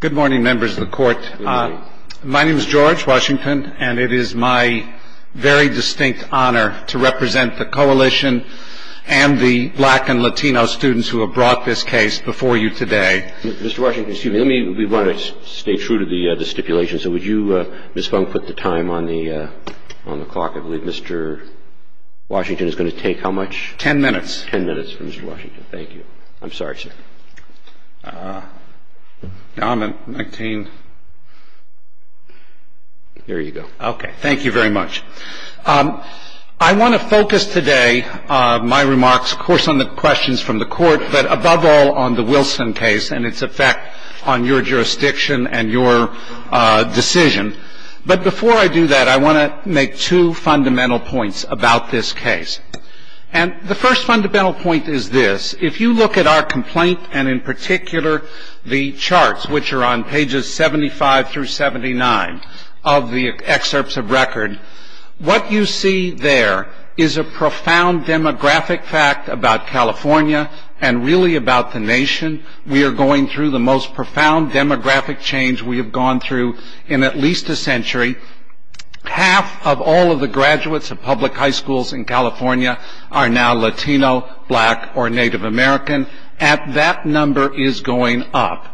Good morning, members of the Court. My name is George Washington, and it is my very distinct honor to represent the Coalition and the Black and Latino students who have brought this case before you today. Mr. Washington, excuse me, we want to stay true to the stipulation, so would you, Ms. Funk, put the time on the clock? I believe Mr. Washington is going to take how much? Ten minutes. Ten minutes for Mr. Washington. Thank you. I'm sorry, sir. There you go. Okay. Thank you very much. I want to focus today my remarks, of course, on the questions from the Court, but above all on the Wilson case and its effect on your jurisdiction and your decision. But before I do that, I want to make two fundamental points about this case. And the first fundamental point is this. If you look at our complaint, and in particular the charts, which are on pages 75 through 79 of the excerpts of record, what you see there is a profound demographic fact about California and really about the nation. We are going through the most profound demographic change we have gone through in at least a century. Half of all of the graduates of public high schools in California are now Latino, black, or Native American, and that number is going up.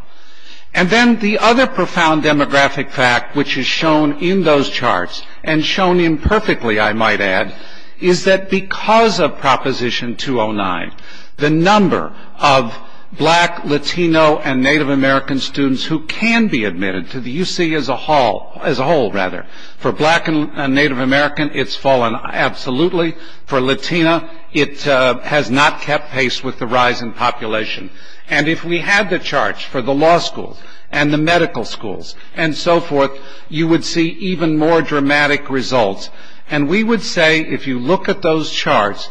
And then the other profound demographic fact, which is shown in those charts, and shown imperfectly, I might add, is that because of Proposition 209, the number of black, Latino, and Native American students who can be admitted to the UC as a whole, for black and Native American, it's fallen absolutely. For Latina, it has not kept pace with the rise in population. And if we had the charts for the law schools and the medical schools and so forth, you would see even more dramatic results. And we would say, if you look at those charts,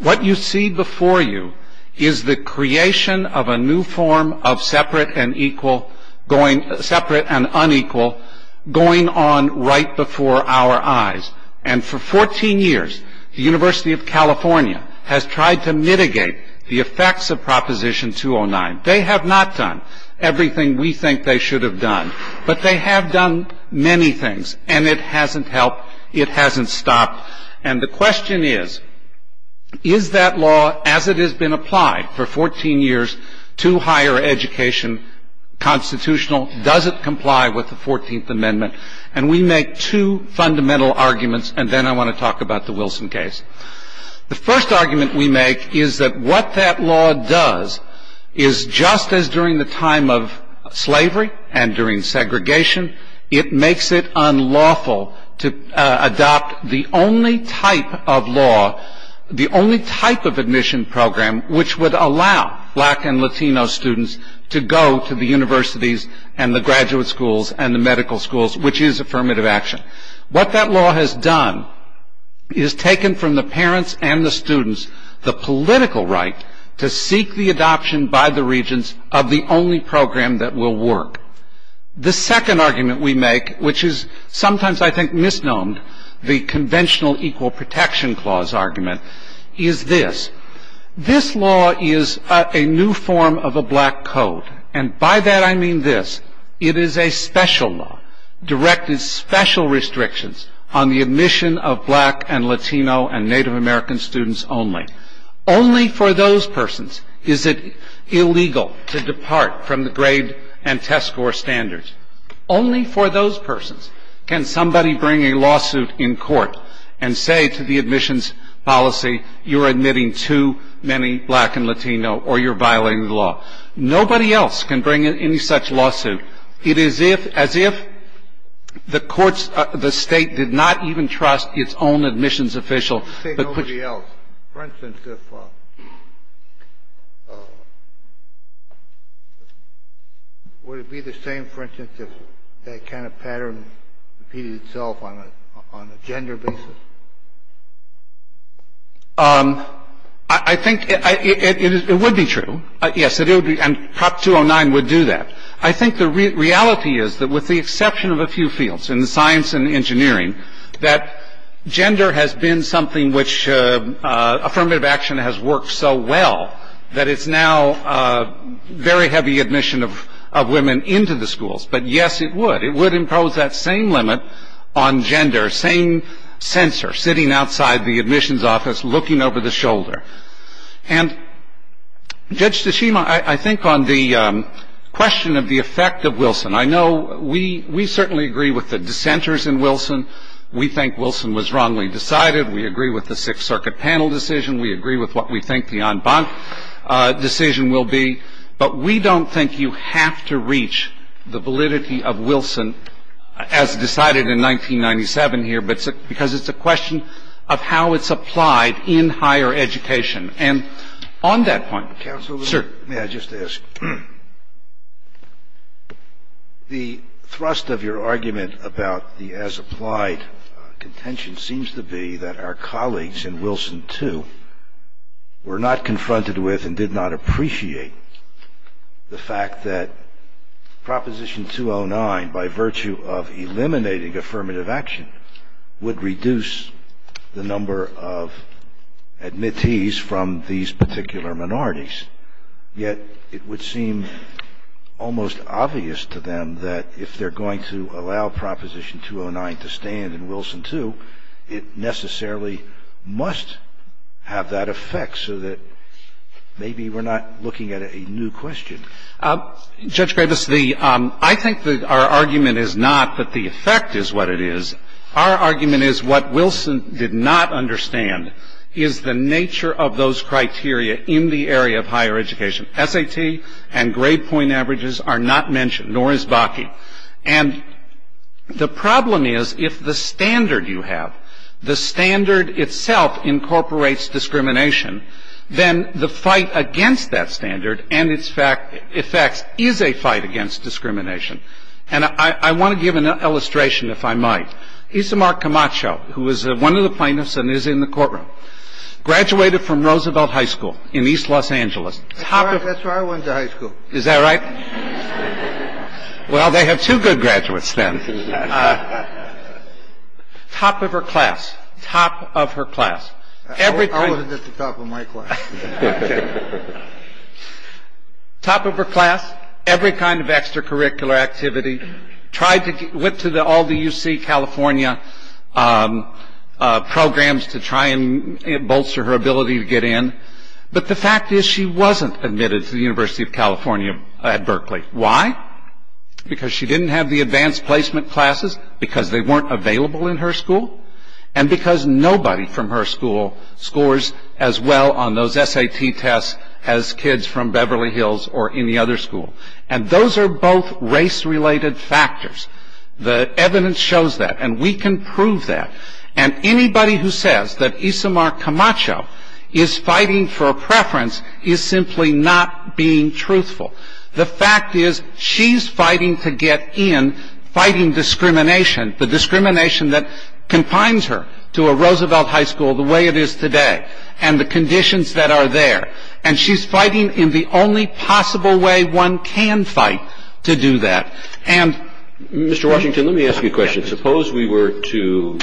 what you see before you is the creation of a new form of separate and unequal going on right before our eyes. And for 14 years, the University of California has tried to mitigate the effects of Proposition 209. They have not done everything we think they should have done, but they have done many things, and it hasn't helped. It hasn't stopped. And the question is, is that law as it has been applied for 14 years to higher education constitutional? Does it comply with the 14th Amendment? And we make two fundamental arguments, and then I want to talk about the Wilson case. The first argument we make is that what that law does is, just as during the time of slavery and during segregation, it makes it unlawful to adopt the only type of law, the only type of admission program, which would allow black and Latino students to go to the universities and the graduate schools and the medical schools, which is affirmative action. What that law has done is taken from the parents and the students the political right to seek the adoption by the regents of the only program that will work. The second argument we make, which is sometimes, I think, misnomed, the conventional equal protection clause argument, is this. This law is a new form of a black code. And by that I mean this. It is a special law, directed special restrictions on the admission of black and Latino and Native American students only. Only for those persons is it illegal to depart from the grade and test score standards. Only for those persons can somebody bring a lawsuit in court and say to the admissions policy, you're admitting too many black and Latino or you're violating the law. Nobody else can bring in any such lawsuit. It is as if the courts, the State, did not even trust its own admissions official. Kennedy. Nobody else. For instance, would it be the same, for instance, if that kind of pattern repeated itself on a gender basis? I think it would be true. Yes, it would be. And Prop 209 would do that. I think the reality is that with the exception of a few fields, in science and engineering, that gender has been something which affirmative action has worked so well that it's now very heavy admission of women into the schools. But, yes, it would. It would impose that same limit on gender, same censor sitting outside the admissions office looking over the shoulder. And Judge Tsushima, I think on the question of the effect of Wilson, I know we certainly agree with the dissenters in Wilson. We think Wilson was wrongly decided. We agree with the Sixth Circuit panel decision. We agree with what we think the en banc decision will be. But we don't think you have to reach the validity of Wilson, as decided in 1997 here, because it's a question of how it's applied in higher education. And on that point, sir. May I just ask, the thrust of your argument about the as-applied contention seems to be that our colleagues in Wilson, too, were not confronted with and did not appreciate the fact that Proposition 209, by virtue of eliminating affirmative action, would reduce the number of admittees from these particular minorities. Yet it would seem almost obvious to them that if they're going to allow Proposition 209 to stand in Wilson, too, it necessarily must have that effect so that maybe we're not looking at a new question. Judge Graves, I think our argument is not that the effect is what it is. Our argument is what Wilson did not understand is the nature of those criteria in the area of higher education. SAT and grade point averages are not mentioned, nor is BACI. And the problem is if the standard you have, the standard itself incorporates discrimination, then the fight against that standard and its effects is a fight against discrimination. And I want to give an illustration, if I might. Isamar Camacho, who is one of the plaintiffs and is in the courtroom, graduated from Roosevelt High School in East Los Angeles. That's where I went to high school. Is that right? Well, they have two good graduates then. Top of her class. Top of her class. I wasn't at the top of my class. Top of her class. Every kind of extracurricular activity. Went to all the UC California programs to try and bolster her ability to get in. But the fact is she wasn't admitted to the University of California at Berkeley. Why? Because she didn't have the advanced placement classes because they weren't available in her school and because nobody from her school scores as well on those SAT tests as kids from Beverly Hills or any other school. And those are both race-related factors. The evidence shows that, and we can prove that. And anybody who says that Isamar Camacho is fighting for a preference is simply not being truthful. The fact is she's fighting to get in, fighting discrimination, the discrimination that confines her to a Roosevelt High School the way it is today and the conditions that are there. And she's fighting in the only possible way one can fight to do that. Mr. Washington, let me ask you a question. Suppose we were to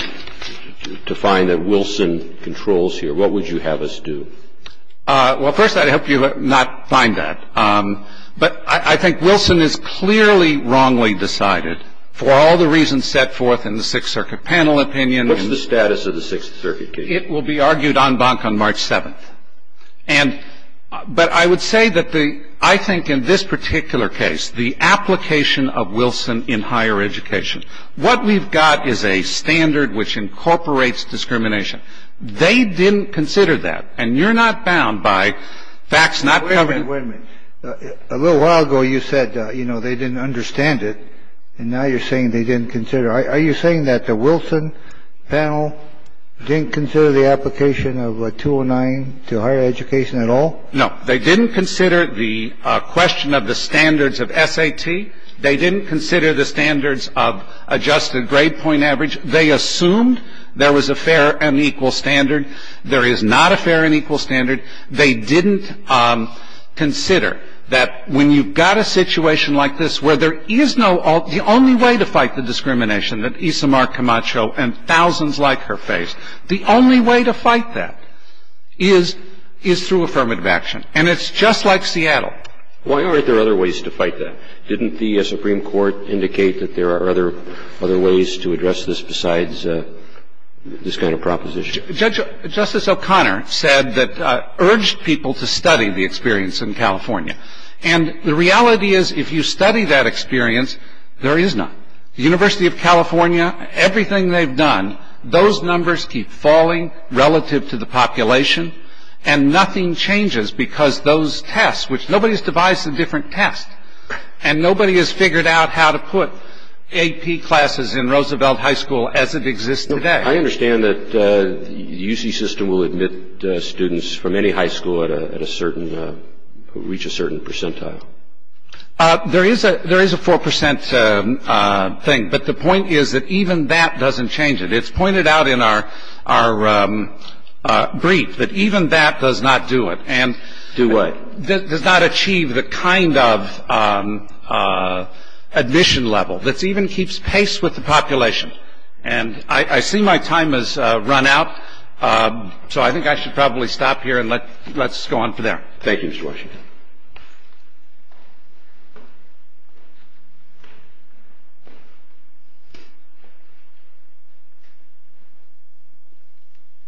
find that Wilson controls here, what would you have us do? Well, first I'd hope you would not find that. But I think Wilson is clearly wrongly decided for all the reasons set forth in the Sixth Circuit panel opinion. What's the status of the Sixth Circuit case? It will be argued en banc on March 7th. But I would say that I think in this particular case, the application of Wilson in higher education, what we've got is a standard which incorporates discrimination. They didn't consider that. And you're not bound by facts not covered. Wait a minute. A little while ago you said, you know, they didn't understand it. And now you're saying they didn't consider it. Are you saying that the Wilson panel didn't consider the application of 209 to higher education at all? No, they didn't consider the question of the standards of SAT. They didn't consider the standards of adjusted grade point average. They assumed there was a fair and equal standard. There is not a fair and equal standard. They didn't consider that when you've got a situation like this where there is no ultimate, the only way to fight the discrimination that Isamar Camacho and thousands like her face, the only way to fight that is through affirmative action. And it's just like Seattle. Why aren't there other ways to fight that? Didn't the Supreme Court indicate that there are other ways to address this besides this kind of proposition? Justice O'Connor said that urged people to study the experience in California. And the reality is if you study that experience, there is none. The University of California, everything they've done, those numbers keep falling relative to the population, and nothing changes because those tests, which nobody has devised a different test, and nobody has figured out how to put AP classes in Roosevelt High School as it exists today. I understand that the UC system will admit students from any high school at a certain, reach a certain percentile. There is a 4 percent thing, but the point is that even that doesn't change it. It's pointed out in our brief that even that does not do it. Do what? Does not achieve the kind of admission level that even keeps pace with the population. And I see my time has run out, so I think I should probably stop here and let's go on from there. Thank you, Mr. Washington.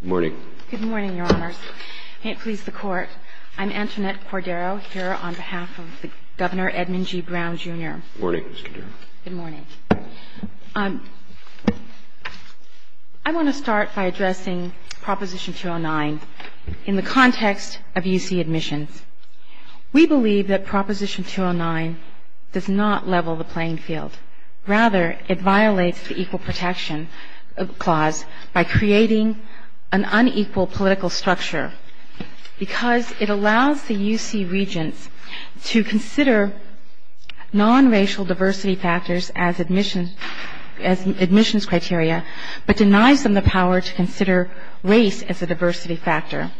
Good morning. Good morning, Your Honors. May it please the Court, I'm Antoinette Cordero here on behalf of Governor Edmund G. Brown, Jr. Good morning, Ms. Cordero. Good morning. I want to start by addressing Proposition 209 in the context of UC admissions. We believe that Proposition 209 does not level the playing field. Rather, it violates the Equal Protection Clause by creating an unequal political structure because it allows the UC regents to consider nonracial diversity factors as admissions criteria, but denies them the power to consider race as a diversity factor.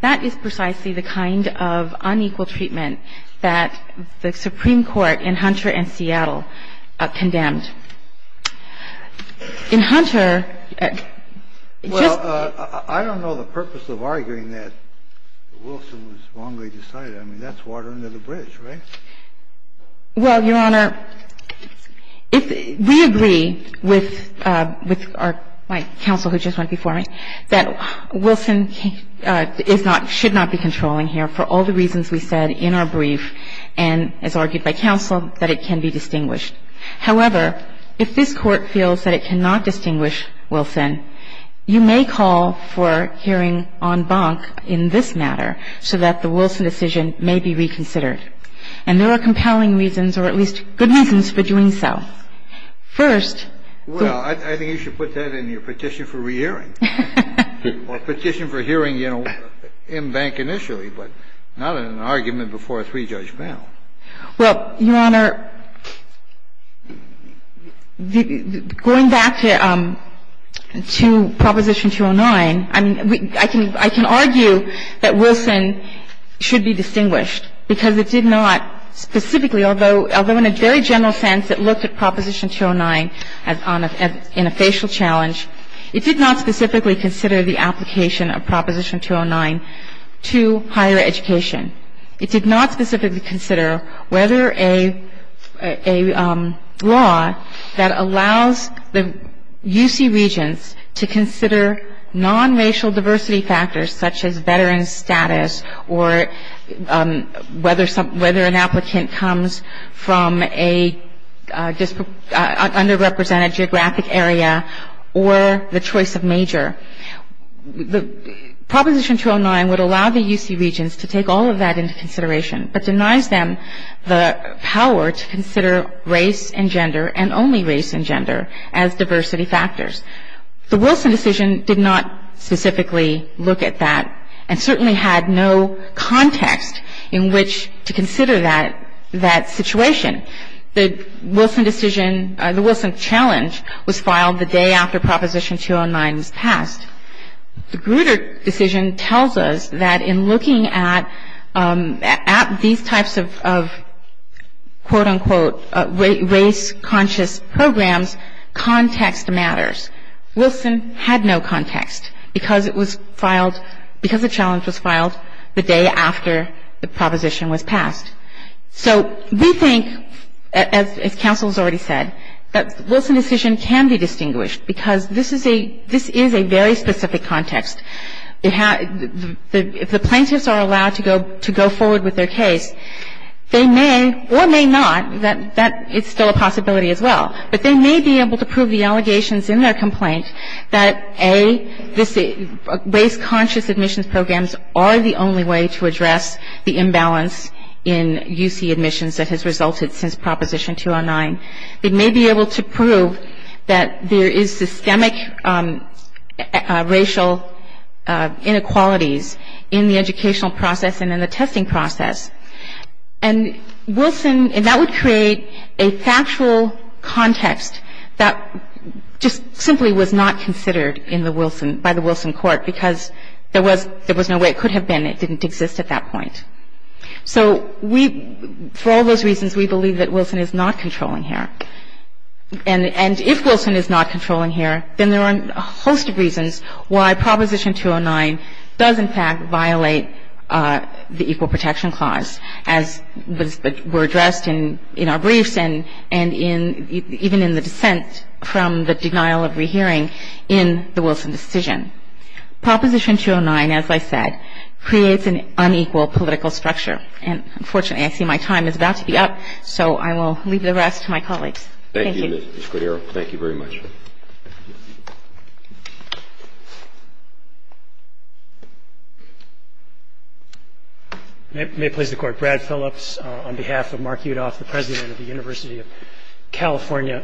That is precisely the kind of unequal treatment that the Supreme Court in Hunter and Seattle condemned. In Hunter, just the ---- Well, I don't know the purpose of arguing that Wilson was wrongly decided. I mean, that's water under the bridge, right? Well, Your Honor, we agree with our counsel who just went before me that Wilson is not ñ should not be controlling here for all the reasons we said in our brief and as argued by counsel that it can be distinguished. However, if this Court feels that it cannot distinguish Wilson, you may call for hearing en banc in this matter so that the Wilson decision may be reconsidered. And there are compelling reasons, or at least good reasons, for doing so. First, the ñ Well, I think you should put that in your petition for re-hearing. Or petition for hearing, you know, en banc initially, but not in an argument before a three-judge panel. Well, Your Honor, going back to Proposition 209, I mean, I can argue that Wilson should be distinguished because it did not specifically, although in a very general sense it looked at Proposition 209 in a facial challenge, it did not specifically consider the application of Proposition 209 to higher education. It did not specifically consider whether a law that allows the UC regents to consider non-racial diversity factors such as veteran status or whether an applicant comes from an underrepresented geographic area or the choice of major. Proposition 209 would allow the UC regents to take all of that into consideration but denies them the power to consider race and gender and only race and gender as diversity factors. The Wilson decision did not specifically look at that and certainly had no context in which to consider that situation. The Wilson decision, the Wilson challenge, was filed the day after Proposition 209 was passed. The Grutter decision tells us that in looking at these types of, quote, unquote, race-conscious programs, context matters. Wilson had no context because it was filed, because the challenge was filed the day after the proposition was passed. So we think, as counsel has already said, that the Wilson decision can be distinguished because this is a very specific context. If the plaintiffs are allowed to go forward with their case, they may or may not, that is still a possibility as well, but they may be able to prove the allegations in their complaint that, A, race-conscious admissions programs are the only way to address the imbalance in UC admissions that has resulted since Proposition 209. They may be able to prove that there is systemic racial inequalities in the educational process and in the testing process. And Wilson, and that would create a factual context that just simply was not considered by the Wilson court because there was no way it could have been. It didn't exist at that point. So we, for all those reasons, we believe that Wilson is not controlling here. And if Wilson is not controlling here, then there are a host of reasons why Proposition 209 does, in fact, violate the Equal Protection Clause, as were addressed in our briefs even in the dissent from the denial of rehearing in the Wilson decision. Proposition 209, as I said, creates an unequal political structure. And, unfortunately, I see my time is about to be up, so I will leave the rest to my colleagues. Thank you. Thank you, Ms. Cordero. Thank you very much. Thank you. May it please the Court. Brad Phillips on behalf of Mark Udoff, the President of the University of California.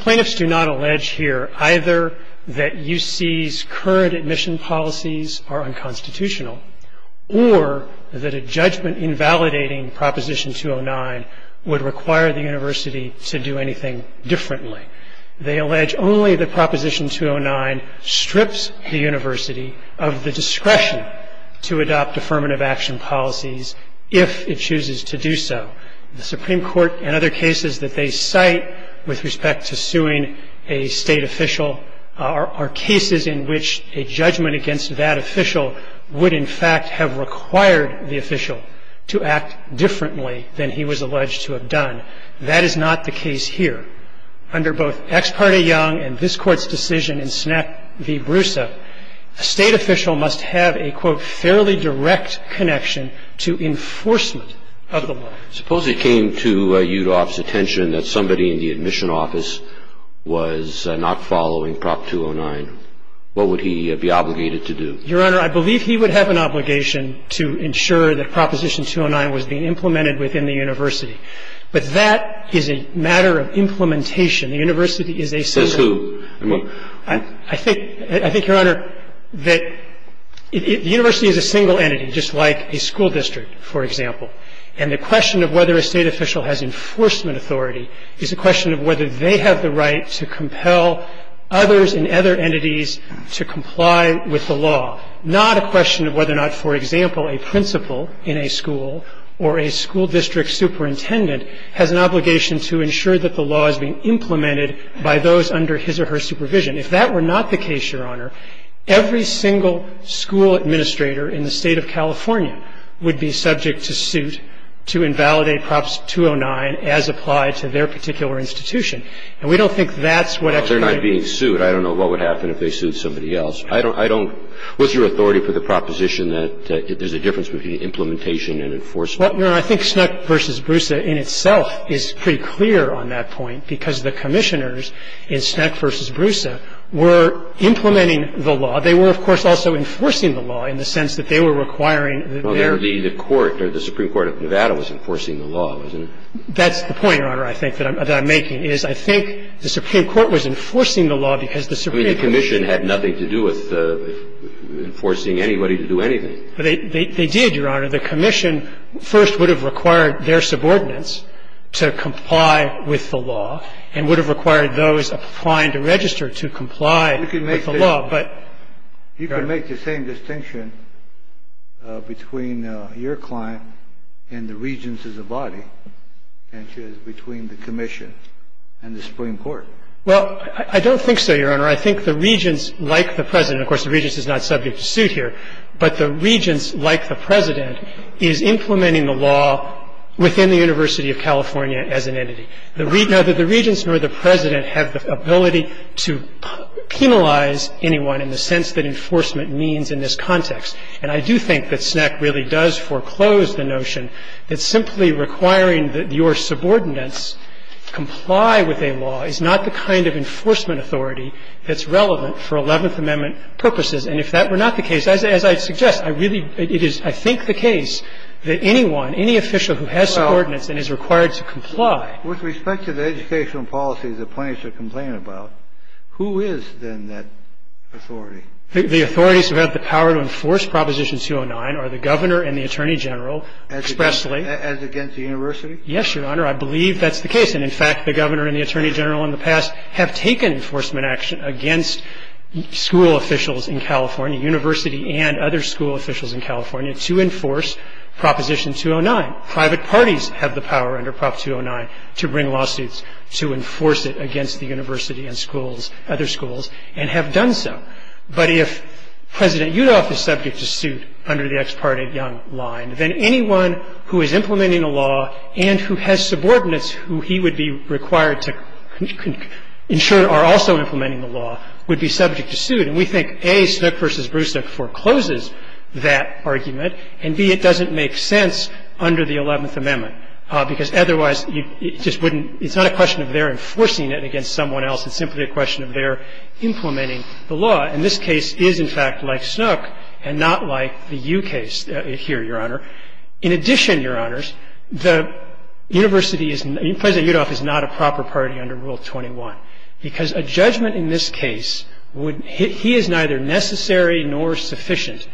Plaintiffs do not allege here either that UC's current admission policies are unconstitutional or that a judgment invalidating Proposition 209 would require the university to do anything differently. They allege only that Proposition 209 strips the university of the discretion to adopt affirmative action policies if it chooses to do so. The Supreme Court, in other cases that they cite with respect to suing a state official, are cases in which a judgment against that official would, in fact, have required the official to act differently than he was alleged to have done. That is not the case here. Under both Ex parte Young and this Court's decision in SNAP v. Brusso, a state official must have a, quote, fairly direct connection to enforcement of the law. Suppose it came to Udoff's attention that somebody in the admission office was not following Prop 209. What would he be obligated to do? Your Honor, I believe he would have an obligation to ensure that Proposition 209 was being implemented within the university. But that is a matter of implementation. The university is a single entity. The university is a single entity, just like a school district, for example. And the question of whether a state official has enforcement authority is a question of whether they have the right to compel others and other entities to comply with the law, not a question of whether or not, for example, a principal in a school or a school district superintendent has an obligation to ensure that the law is being implemented by those under his or her supervision. If that were not the case, Your Honor, every single school administrator in the State of California would be subject to suit to invalidate Prop 209 as applied to their particular institution. And we don't think that's what Ex parte Young. They're not being sued. I don't know what would happen if they sued somebody else. I don't – what's your authority for the proposition that there's a difference between implementation and enforcement? Well, Your Honor, I think Snook v. Broussa in itself is pretty clear on that point because the commissioners in Snook v. Broussa were implementing the law. They were, of course, also enforcing the law in the sense that they were requiring their – Well, the Supreme Court of Nevada was enforcing the law, wasn't it? That's the point, Your Honor, I think that I'm making is I think the Supreme Court was enforcing the law because the Supreme – I mean, the commission had nothing to do with enforcing anybody to do anything. They did, Your Honor. The commission first would have required their subordinates to comply with the law and would have required those applying to register to comply with the law, but – You can make the same distinction between your client and the Regents as a body, can't you, as between the commission and the Supreme Court? Well, I don't think so, Your Honor. I think the Regents, like the President – of course, the Regents is not subject to suit here, but the Regents, like the President, is implementing the law within the University of California as an entity. Neither the Regents nor the President have the ability to penalize anyone in the sense that enforcement means in this context. And I do think that SNCC really does foreclose the notion that simply requiring that your subordinates comply with a law is not the kind of enforcement authority that's relevant for Eleventh Amendment purposes. And if that were not the case, as I suggest, I really – it is, I think, the case that anyone, any official who has subordinates and is required to comply – Well, with respect to the educational policies that plaintiffs are complaining about, who is then that authority? The authorities who have the power to enforce Proposition 209 are the Governor and the Attorney General expressly. As against the university? Yes, Your Honor. I believe that's the case. And, in fact, the Governor and the Attorney General in the past have taken enforcement action against school officials in California, university and other school officials in California to enforce Proposition 209. Private parties have the power under Prop 209 to bring lawsuits to enforce it against the university and schools, other schools, and have done so. But if President Yudof is subject to suit under the ex parte Young line, then anyone who is implementing a law and who has subordinates who he would be required to ensure are also implementing the law would be subject to suit. And we think, A, Snook v. Bruce Snook forecloses that argument, and, B, it doesn't make sense under the Eleventh Amendment, because otherwise you just wouldn't – it's not a question of their enforcing it against someone else. It's simply a question of their implementing the law. And this case is, in fact, like Snook and not like the Yu case here, Your Honor. In addition, Your Honors, the university is – President Yudof is not a proper party under Rule 21, because a judgment in this case would – he is neither necessary nor sufficient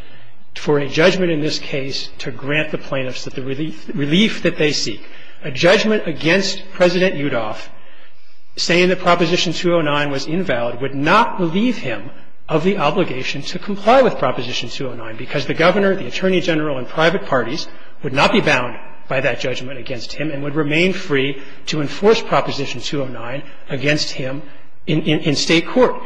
for a judgment in this case to grant the plaintiffs the relief that they seek. A judgment against President Yudof saying that Proposition 209 was invalid would not relieve him of the obligation to comply with Proposition 209, because the governor, the attorney general, and private parties would not be bound by that against him in state court.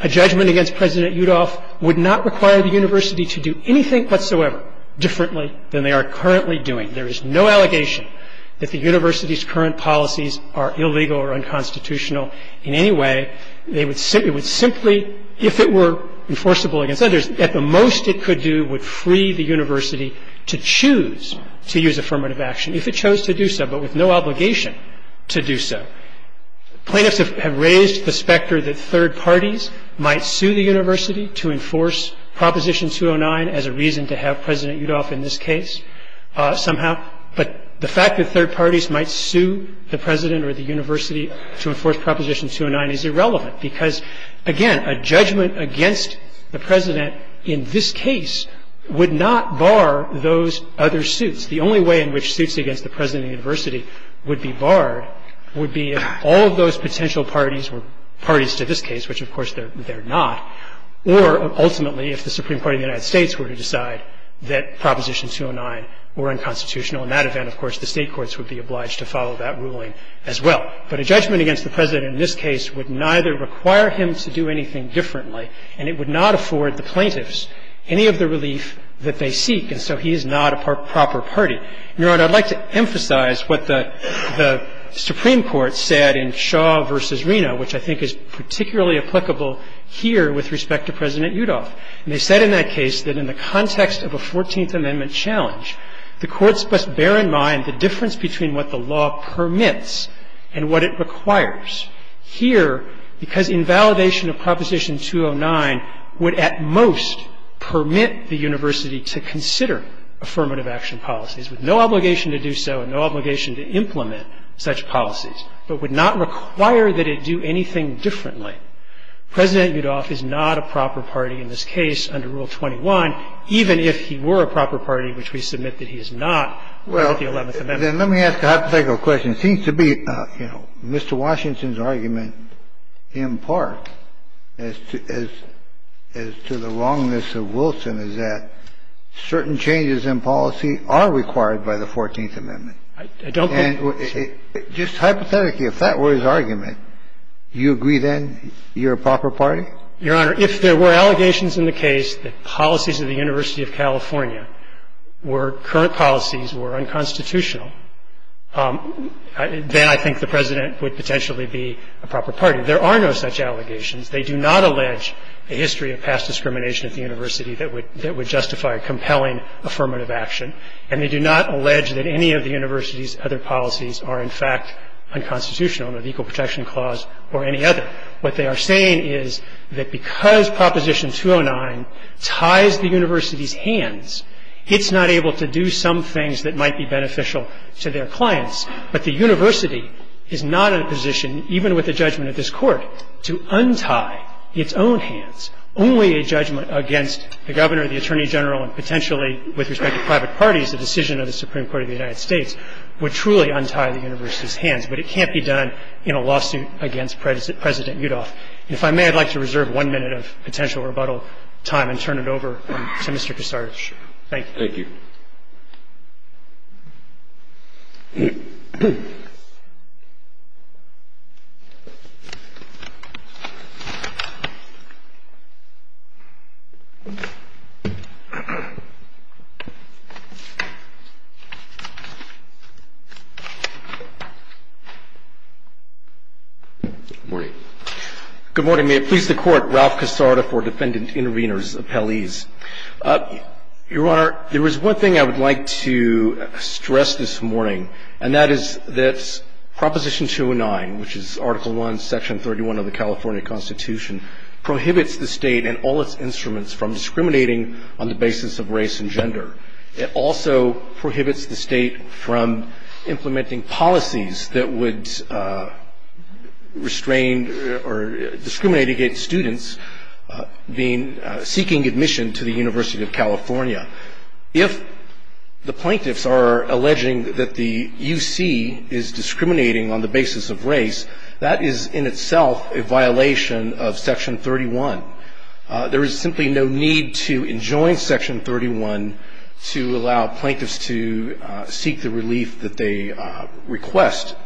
A judgment against President Yudof would not require the university to do anything whatsoever differently than they are currently doing. There is no allegation that the university's current policies are illegal or unconstitutional in any way. It would simply, if it were enforceable against others, at the most it could do would free the university to choose to use affirmative action, if it chose to do so. Plaintiffs have raised the specter that third parties might sue the university to enforce Proposition 209 as a reason to have President Yudof in this case somehow. But the fact that third parties might sue the president or the university to enforce Proposition 209 is irrelevant, because, again, a judgment against the president in this case would not bar those other suits. The only way in which suits against the president and the university would be barred would be if all of those potential parties were parties to this case, which of course they're not, or ultimately if the Supreme Court of the United States were to decide that Proposition 209 were unconstitutional. In that event, of course, the state courts would be obliged to follow that ruling as well. But a judgment against the president in this case would neither require him to do anything differently, and it would not afford the plaintiffs any of the relief that they seek. And so he is not a proper party. Your Honor, I'd like to emphasize what the Supreme Court said in Shaw v. Reno, which I think is particularly applicable here with respect to President Yudof. And they said in that case that in the context of a Fourteenth Amendment challenge, the courts must bear in mind the difference between what the law permits and what it requires here, because invalidation of Proposition 209 would at most permit the university to consider affirmative action policies with no obligation to do so and no obligation to implement such policies, but would not require that it do anything differently. President Yudof is not a proper party in this case under Rule 21, even if he were a proper party, which we submit that he is not under the Eleventh Amendment. Well, then let me ask a hypothetical question. It seems to be, you know, Mr. Washington's argument in part as to the wrongness of Wilson is that certain changes in policy are required by the Fourteenth Amendment. I don't think so. Just hypothetically, if that were his argument, you agree then you're a proper party? Your Honor, if there were allegations in the case that policies of the University of California were current policies, were unconstitutional, then I think the President would potentially be a proper party. There are no such allegations. They do not allege a history of past discrimination at the university that would justify a compelling affirmative action, and they do not allege that any of the university's other policies are in fact unconstitutional under the Equal Protection Clause or any other. What they are saying is that because Proposition 209 ties the university's hands, it's not able to do some things that might be beneficial to their clients. But the university is not in a position, even with a judgment of this Court, to untie its own hands. Only a judgment against the Governor, the Attorney General, and potentially with respect to private parties, the decision of the Supreme Court of the United States, would truly untie the university's hands. But it can't be done in a lawsuit against President Yudof. And if I may, I'd like to reserve one minute of potential rebuttal time and turn it over to Mr. Kuczarski. Thank you. Good morning. Good morning. May it please the Court, Ralph Casarda for Defendant Intervenors Appellees. Your Honor, there is one thing I would like to stress this morning, and that is that Proposition 209, which is Article I, Section 31 of the California Constitution, prohibits the State and all its instruments from discriminating on the basis of race and gender. It also prohibits the State from implementing policies that would restrain or discriminate against students seeking admission to the University of California. If the plaintiffs are alleging that the UC is discriminating on the basis of race, that is in itself a violation of Section 31. There is simply no need to enjoin Section 31 to allow plaintiffs to seek the relief that they request.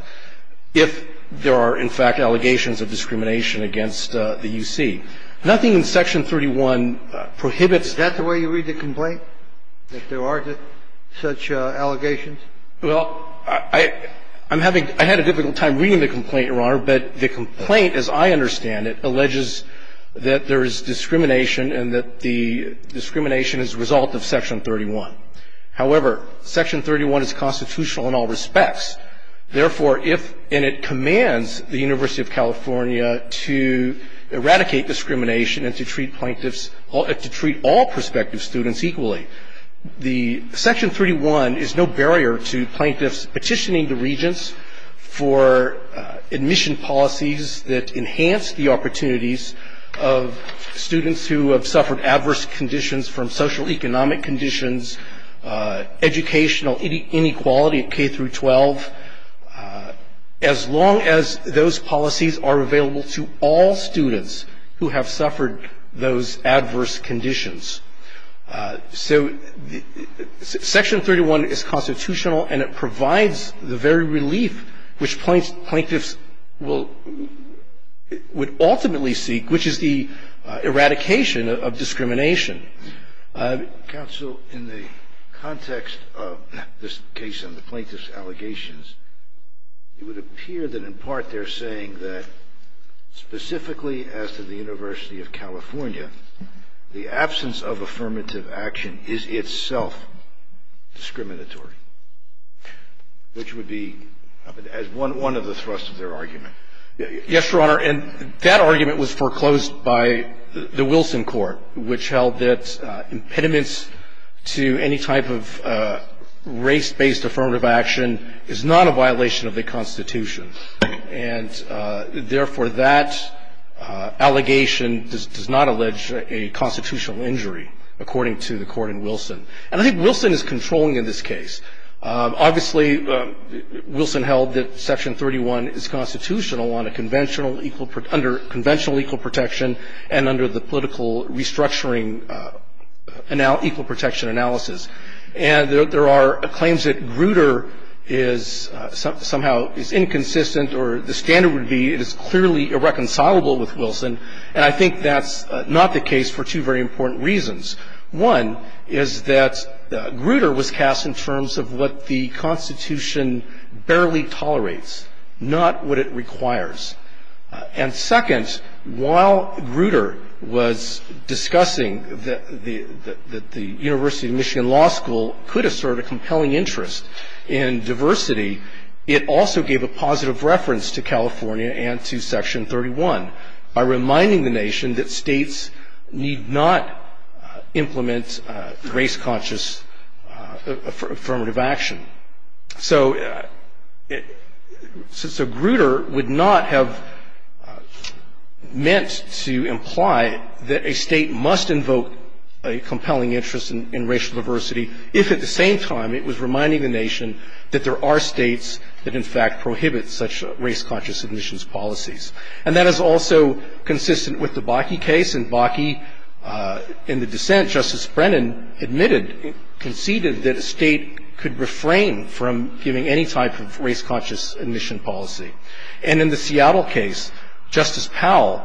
If there are, in fact, allegations of discrimination against the UC. Nothing in Section 31 prohibits that. Is that the way you read the complaint, that there are such allegations? Well, I'm having — I had a difficult time reading the complaint, Your Honor. But the complaint, as I understand it, alleges that there is discrimination and that the discrimination is a result of Section 31. However, Section 31 is constitutional in all respects. Therefore, if — and it commands the University of California to eradicate discrimination and to treat plaintiffs — to treat all prospective students equally. The Section 31 is no barrier to plaintiffs petitioning the Regents for admission policies that enhance the opportunities of students who have suffered adverse conditions from social economic conditions, educational inequality at K through 12, as long as those policies are available to all students who have suffered those adverse conditions. So Section 31 is constitutional and it provides the very relief which plaintiffs will — Counsel, in the context of this case and the plaintiffs' allegations, it would appear that in part they're saying that specifically as to the University of California, the absence of affirmative action is itself discriminatory, which would be one of the thrusts of their argument. Yes, Your Honor. And that argument was foreclosed by the Wilson Court, which held that impediments to any type of race-based affirmative action is not a violation of the Constitution. And therefore, that allegation does not allege a constitutional injury, according to the court in Wilson. And I think Wilson is controlling in this case. Obviously, Wilson held that Section 31 is constitutional under conventional equal protection and under the political restructuring equal protection analysis. And there are claims that Grutter is somehow inconsistent or the standard would be it is clearly irreconcilable with Wilson, and I think that's not the case for two very important reasons. One is that Grutter was cast in terms of what the Constitution barely tolerates, not what it requires. And second, while Grutter was discussing that the University of Michigan Law School could assert a compelling interest in diversity, it also gave a positive reference to California and to Section 31 by reminding the nation that states need not implement race-conscious affirmative action. So Grutter would not have meant to imply that a state must invoke a compelling interest in racial diversity if at the same time it was reminding the nation that there are states that, in fact, prohibit such race-conscious admissions policies. And that is also consistent with the Bakke case. In Bakke, in the dissent, Justice Brennan admitted, conceded that a state could refrain from giving any type of race-conscious admission policy. And in the Seattle case, Justice Powell,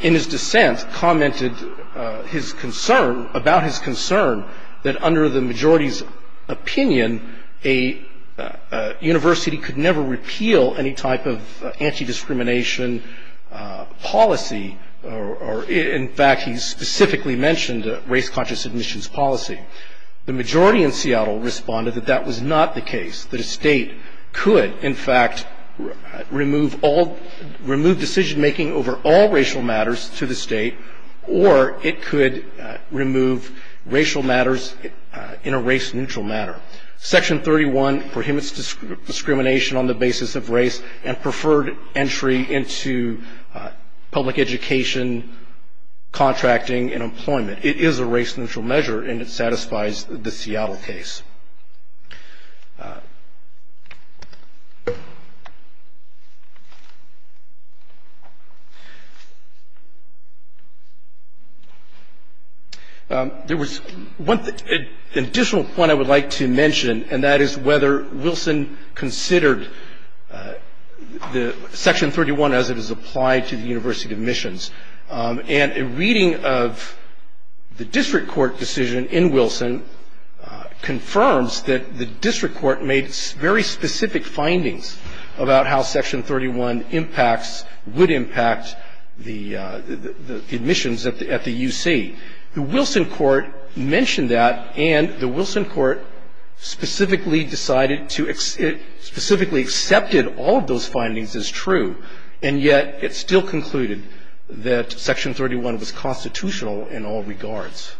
in his dissent, commented his concern, about his concern, that under the majority's opinion, a university could never repeal any type of anti-discrimination policy. In fact, he specifically mentioned race-conscious admissions policy. The majority in Seattle responded that that was not the case, that a state could, in fact, remove decision-making over all racial matters to the state, or it could remove racial matters in a race-neutral manner. Section 31 prohibits discrimination on the basis of race and preferred entry into public education, contracting, and employment. It is a race-neutral measure, and it satisfies the Seattle case. There was one additional point I would like to mention, and that is whether Wilson considered Section 31 as it was applied to the University of Admissions. And a reading of the district court decision in Wilson confirmed that, the district court made very specific findings about how Section 31 impacts, would impact the admissions at the UC. The Wilson court mentioned that, and the Wilson court specifically decided to, specifically accepted all of those findings as true. And yet, it still concluded that Section 31 was constitutional in all regards.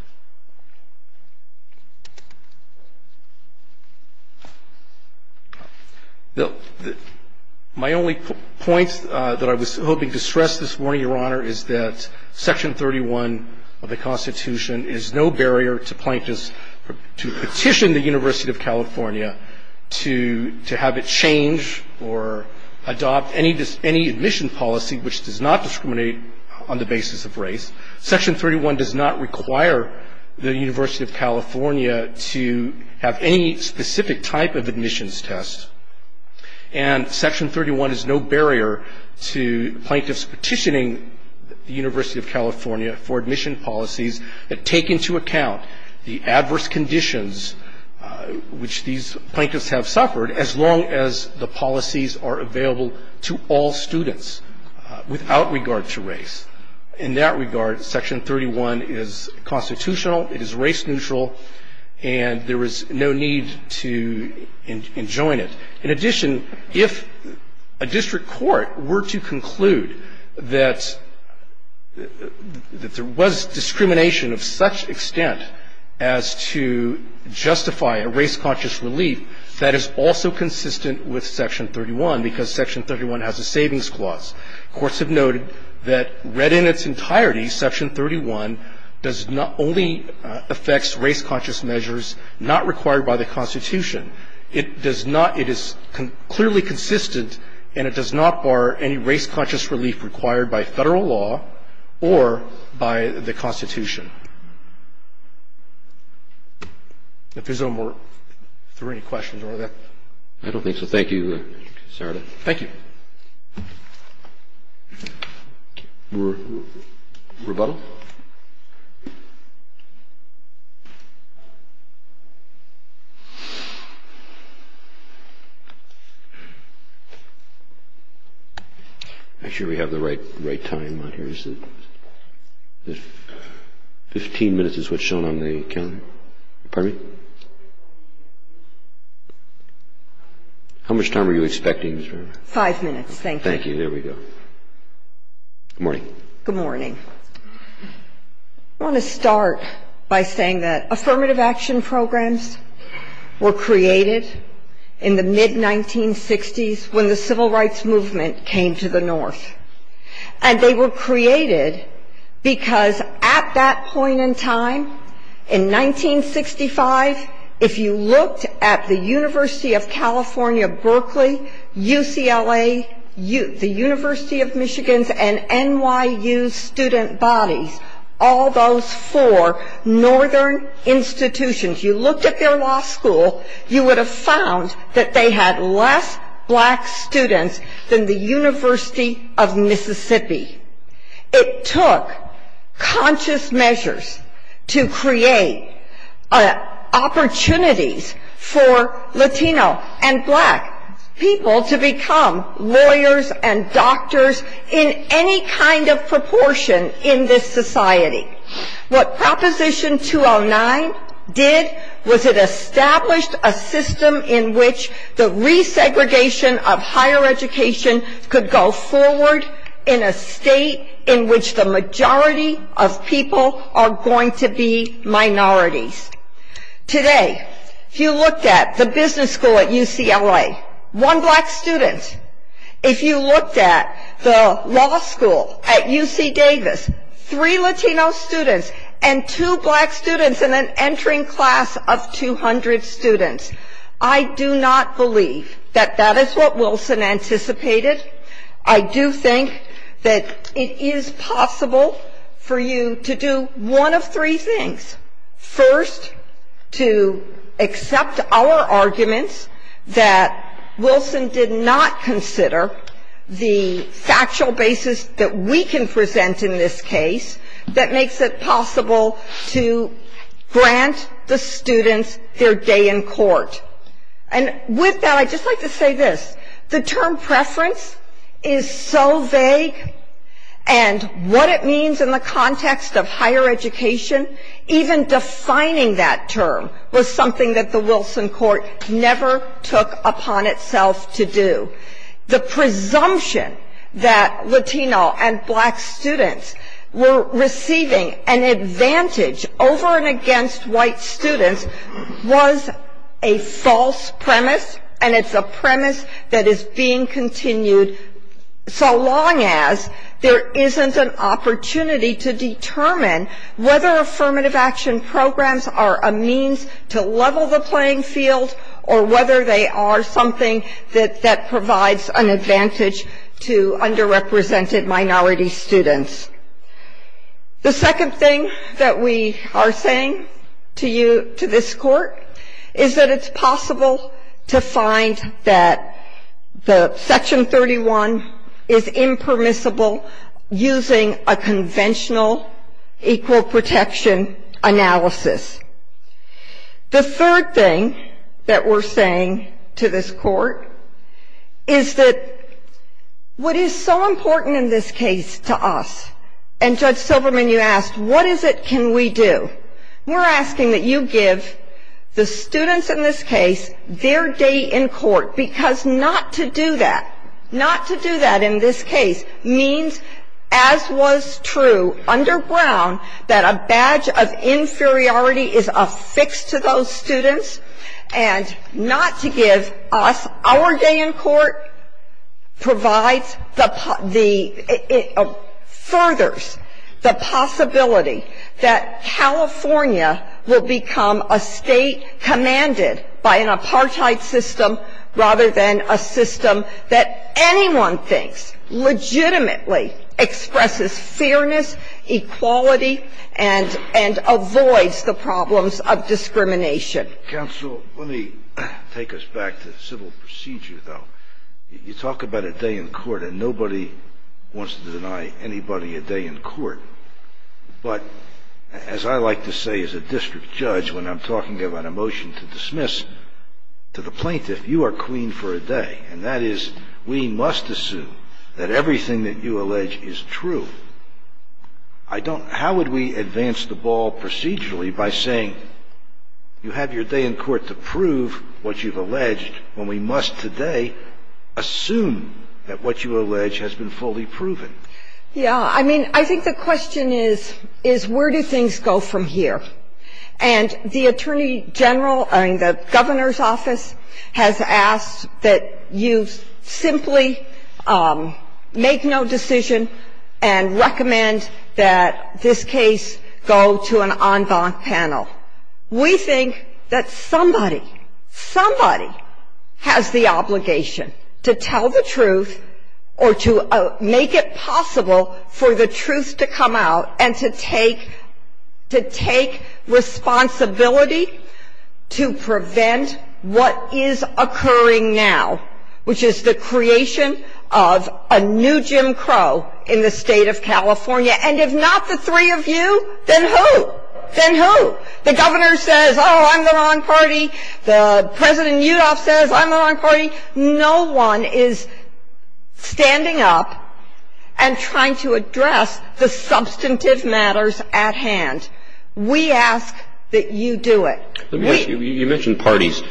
My only point that I was hoping to stress this morning, Your Honor, is that Section 31 of the Constitution is no barrier to plaintiffs to petition the University of California to have it change or adopt any admission policy which does not discriminate on the basis of race. Section 31 does not require the University of California to have any specific type of admissions test. And Section 31 is no barrier to plaintiffs petitioning the University of California for admission policies that take into account the adverse conditions which these plaintiffs have suffered as long as the policies are available to all students without regard to race. In that regard, Section 31 is constitutional, it is race neutral, and there is no need to enjoin it. In addition, if a district court were to conclude that there was discrimination of such extent as to justify a race-conscious relief, that is also consistent with Section 31 because Section 31 has a savings clause. Courts have noted that read in its entirety, Section 31 only affects race-conscious measures not required by the Constitution. It does not – it is clearly consistent and it does not bar any race-conscious relief required by Federal law or by the Constitution. If there's no more – if there are any questions on that. I don't think so. Thank you, Sarada. Thank you. Rebuttal. I'm sure we have the right time on here, isn't it? Fifteen minutes is what's shown on the calendar. Pardon me? How much time were you expecting? Five minutes. Thank you. Thank you. There we go. Good morning. Good morning. I want to start by saying that affirmative action programs were created in the mid-1960s when the Civil Rights Movement came to the North. And they were created because at that point in time, in 1965, if you looked at the University of California, Berkeley, UCLA, the University of Michigan, and NYU student bodies, all those four northern institutions, you looked at their law school, you would have found that they had less black students than the University of Mississippi. It took conscious measures to create opportunities for Latino and black people to become lawyers and doctors in any kind of proportion in this society. What Proposition 209 did was it established a system in which the resegregation of higher education could go forward in a state in which the majority of people are going to be minorities. Today, if you looked at the business school at UCLA, one black student. If you looked at the law school at UC Davis, three Latino students and two black students and an entering class of 200 students. I do not believe that that is what Wilson anticipated. I do think that it is possible for you to do one of three things. First, to accept our arguments that Wilson did not consider the factual basis that we can present in this case that makes it possible to grant the students their day in court. And with that, I'd just like to say this. The term preference is so vague, and what it means in the context of higher education, even defining that term was something that the Wilson court never took upon itself to do. The presumption that Latino and black students were receiving an advantage over and against white students was a false premise, and it's a premise that is being continued so long as there isn't an opportunity to determine whether affirmative action programs are a means to level the playing field or whether they are something that provides an advantage to underrepresented minority students. The second thing that we are saying to you, to this court, is that it's possible to find that the Section 31 is impermissible using a conventional equal protection analysis. The third thing that we're saying to this court is that what is so important in this case to us, and Judge Silverman, you asked, what is it can we do? We're asking that you give the students in this case their day in court, because not to do that, not to do that in this case means, as was true underground, that a badge of inferiority is affixed to those students, and not to give us our day in court provides the, it furthers the possibility that California will become a state commanded by an apartheid system rather than a system that anyone thinks legitimately expresses fairness, equality, and avoids the problems of discrimination. Counsel, let me take us back to civil procedure, though. You talk about a day in court, and nobody wants to deny anybody a day in court, but as I like to say as a district judge when I'm talking about a motion to dismiss to the plaintiff, you are queen for a day, and that is we must assume that everything that you allege is true. I don't, how would we advance the ball procedurally by saying you have your day in court to prove what you've alleged when we must today assume that what you allege has been fully proven? Yeah. I mean, I think the question is, is where do things go from here? And the attorney general in the governor's office has asked that you simply make no decision and recommend that this case go to an en banc panel. We think that somebody, somebody has the obligation to tell the truth or to make it possible for the truth to come out and to take responsibility to prevent what is occurring now, which is the creation of a new Jim Crow in the state of California. And if not the three of you, then who? Then who? The governor says, oh, I'm the wrong party. The President Yudof says, I'm the wrong party. No one is standing up and trying to address the substantive matters at hand. We ask that you do it. You mentioned parties.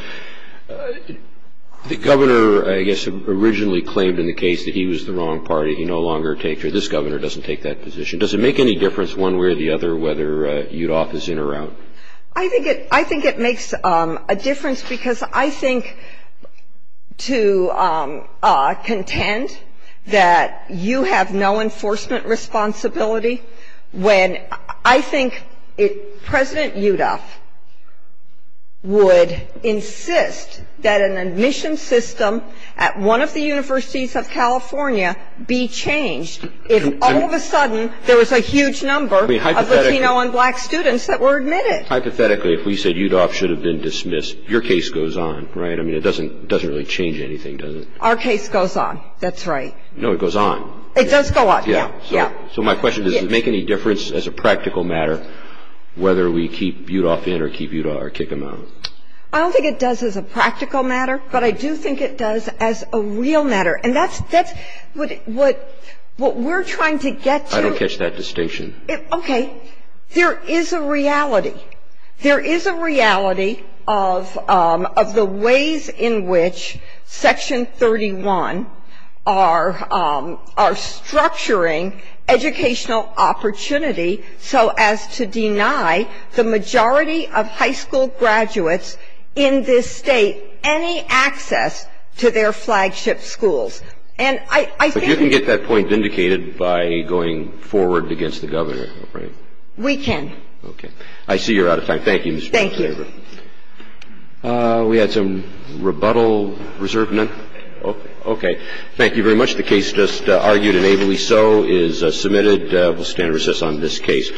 The governor, I guess, originally claimed in the case that he was the wrong party. He no longer takes, or this governor doesn't take that position. Does it make any difference one way or the other whether Yudof is in or out? I think it makes a difference because I think to contend that you have no enforcement responsibility when I think President Yudof would insist that an admission system at one of the universities of California be changed if all of a sudden there was a huge number of Latino and black students that were admitted. Hypothetically, if we said Yudof should have been dismissed, your case goes on, right? I mean, it doesn't really change anything, does it? Our case goes on. That's right. No, it goes on. It does go on. Yeah. Yeah. So my question is, does it make any difference as a practical matter whether we keep Yudof in or keep Yudof or kick him out? I don't think it does as a practical matter, but I do think it does as a real matter. And that's what we're trying to get to. I don't catch that distinction. Okay. There is a reality. There is a reality of the ways in which Section 31 are structuring educational opportunity so as to deny the majority of high school graduates in this state any access to their flagship schools. But you can get that point vindicated by going forward against the governor, right? We can. Okay. I see you're out of time. Thank you, Mr. Chief Justice. Thank you. We had some rebuttal reserved? Okay. Thank you very much. The case just argued and ably so is submitted. We'll stand and recess on this case.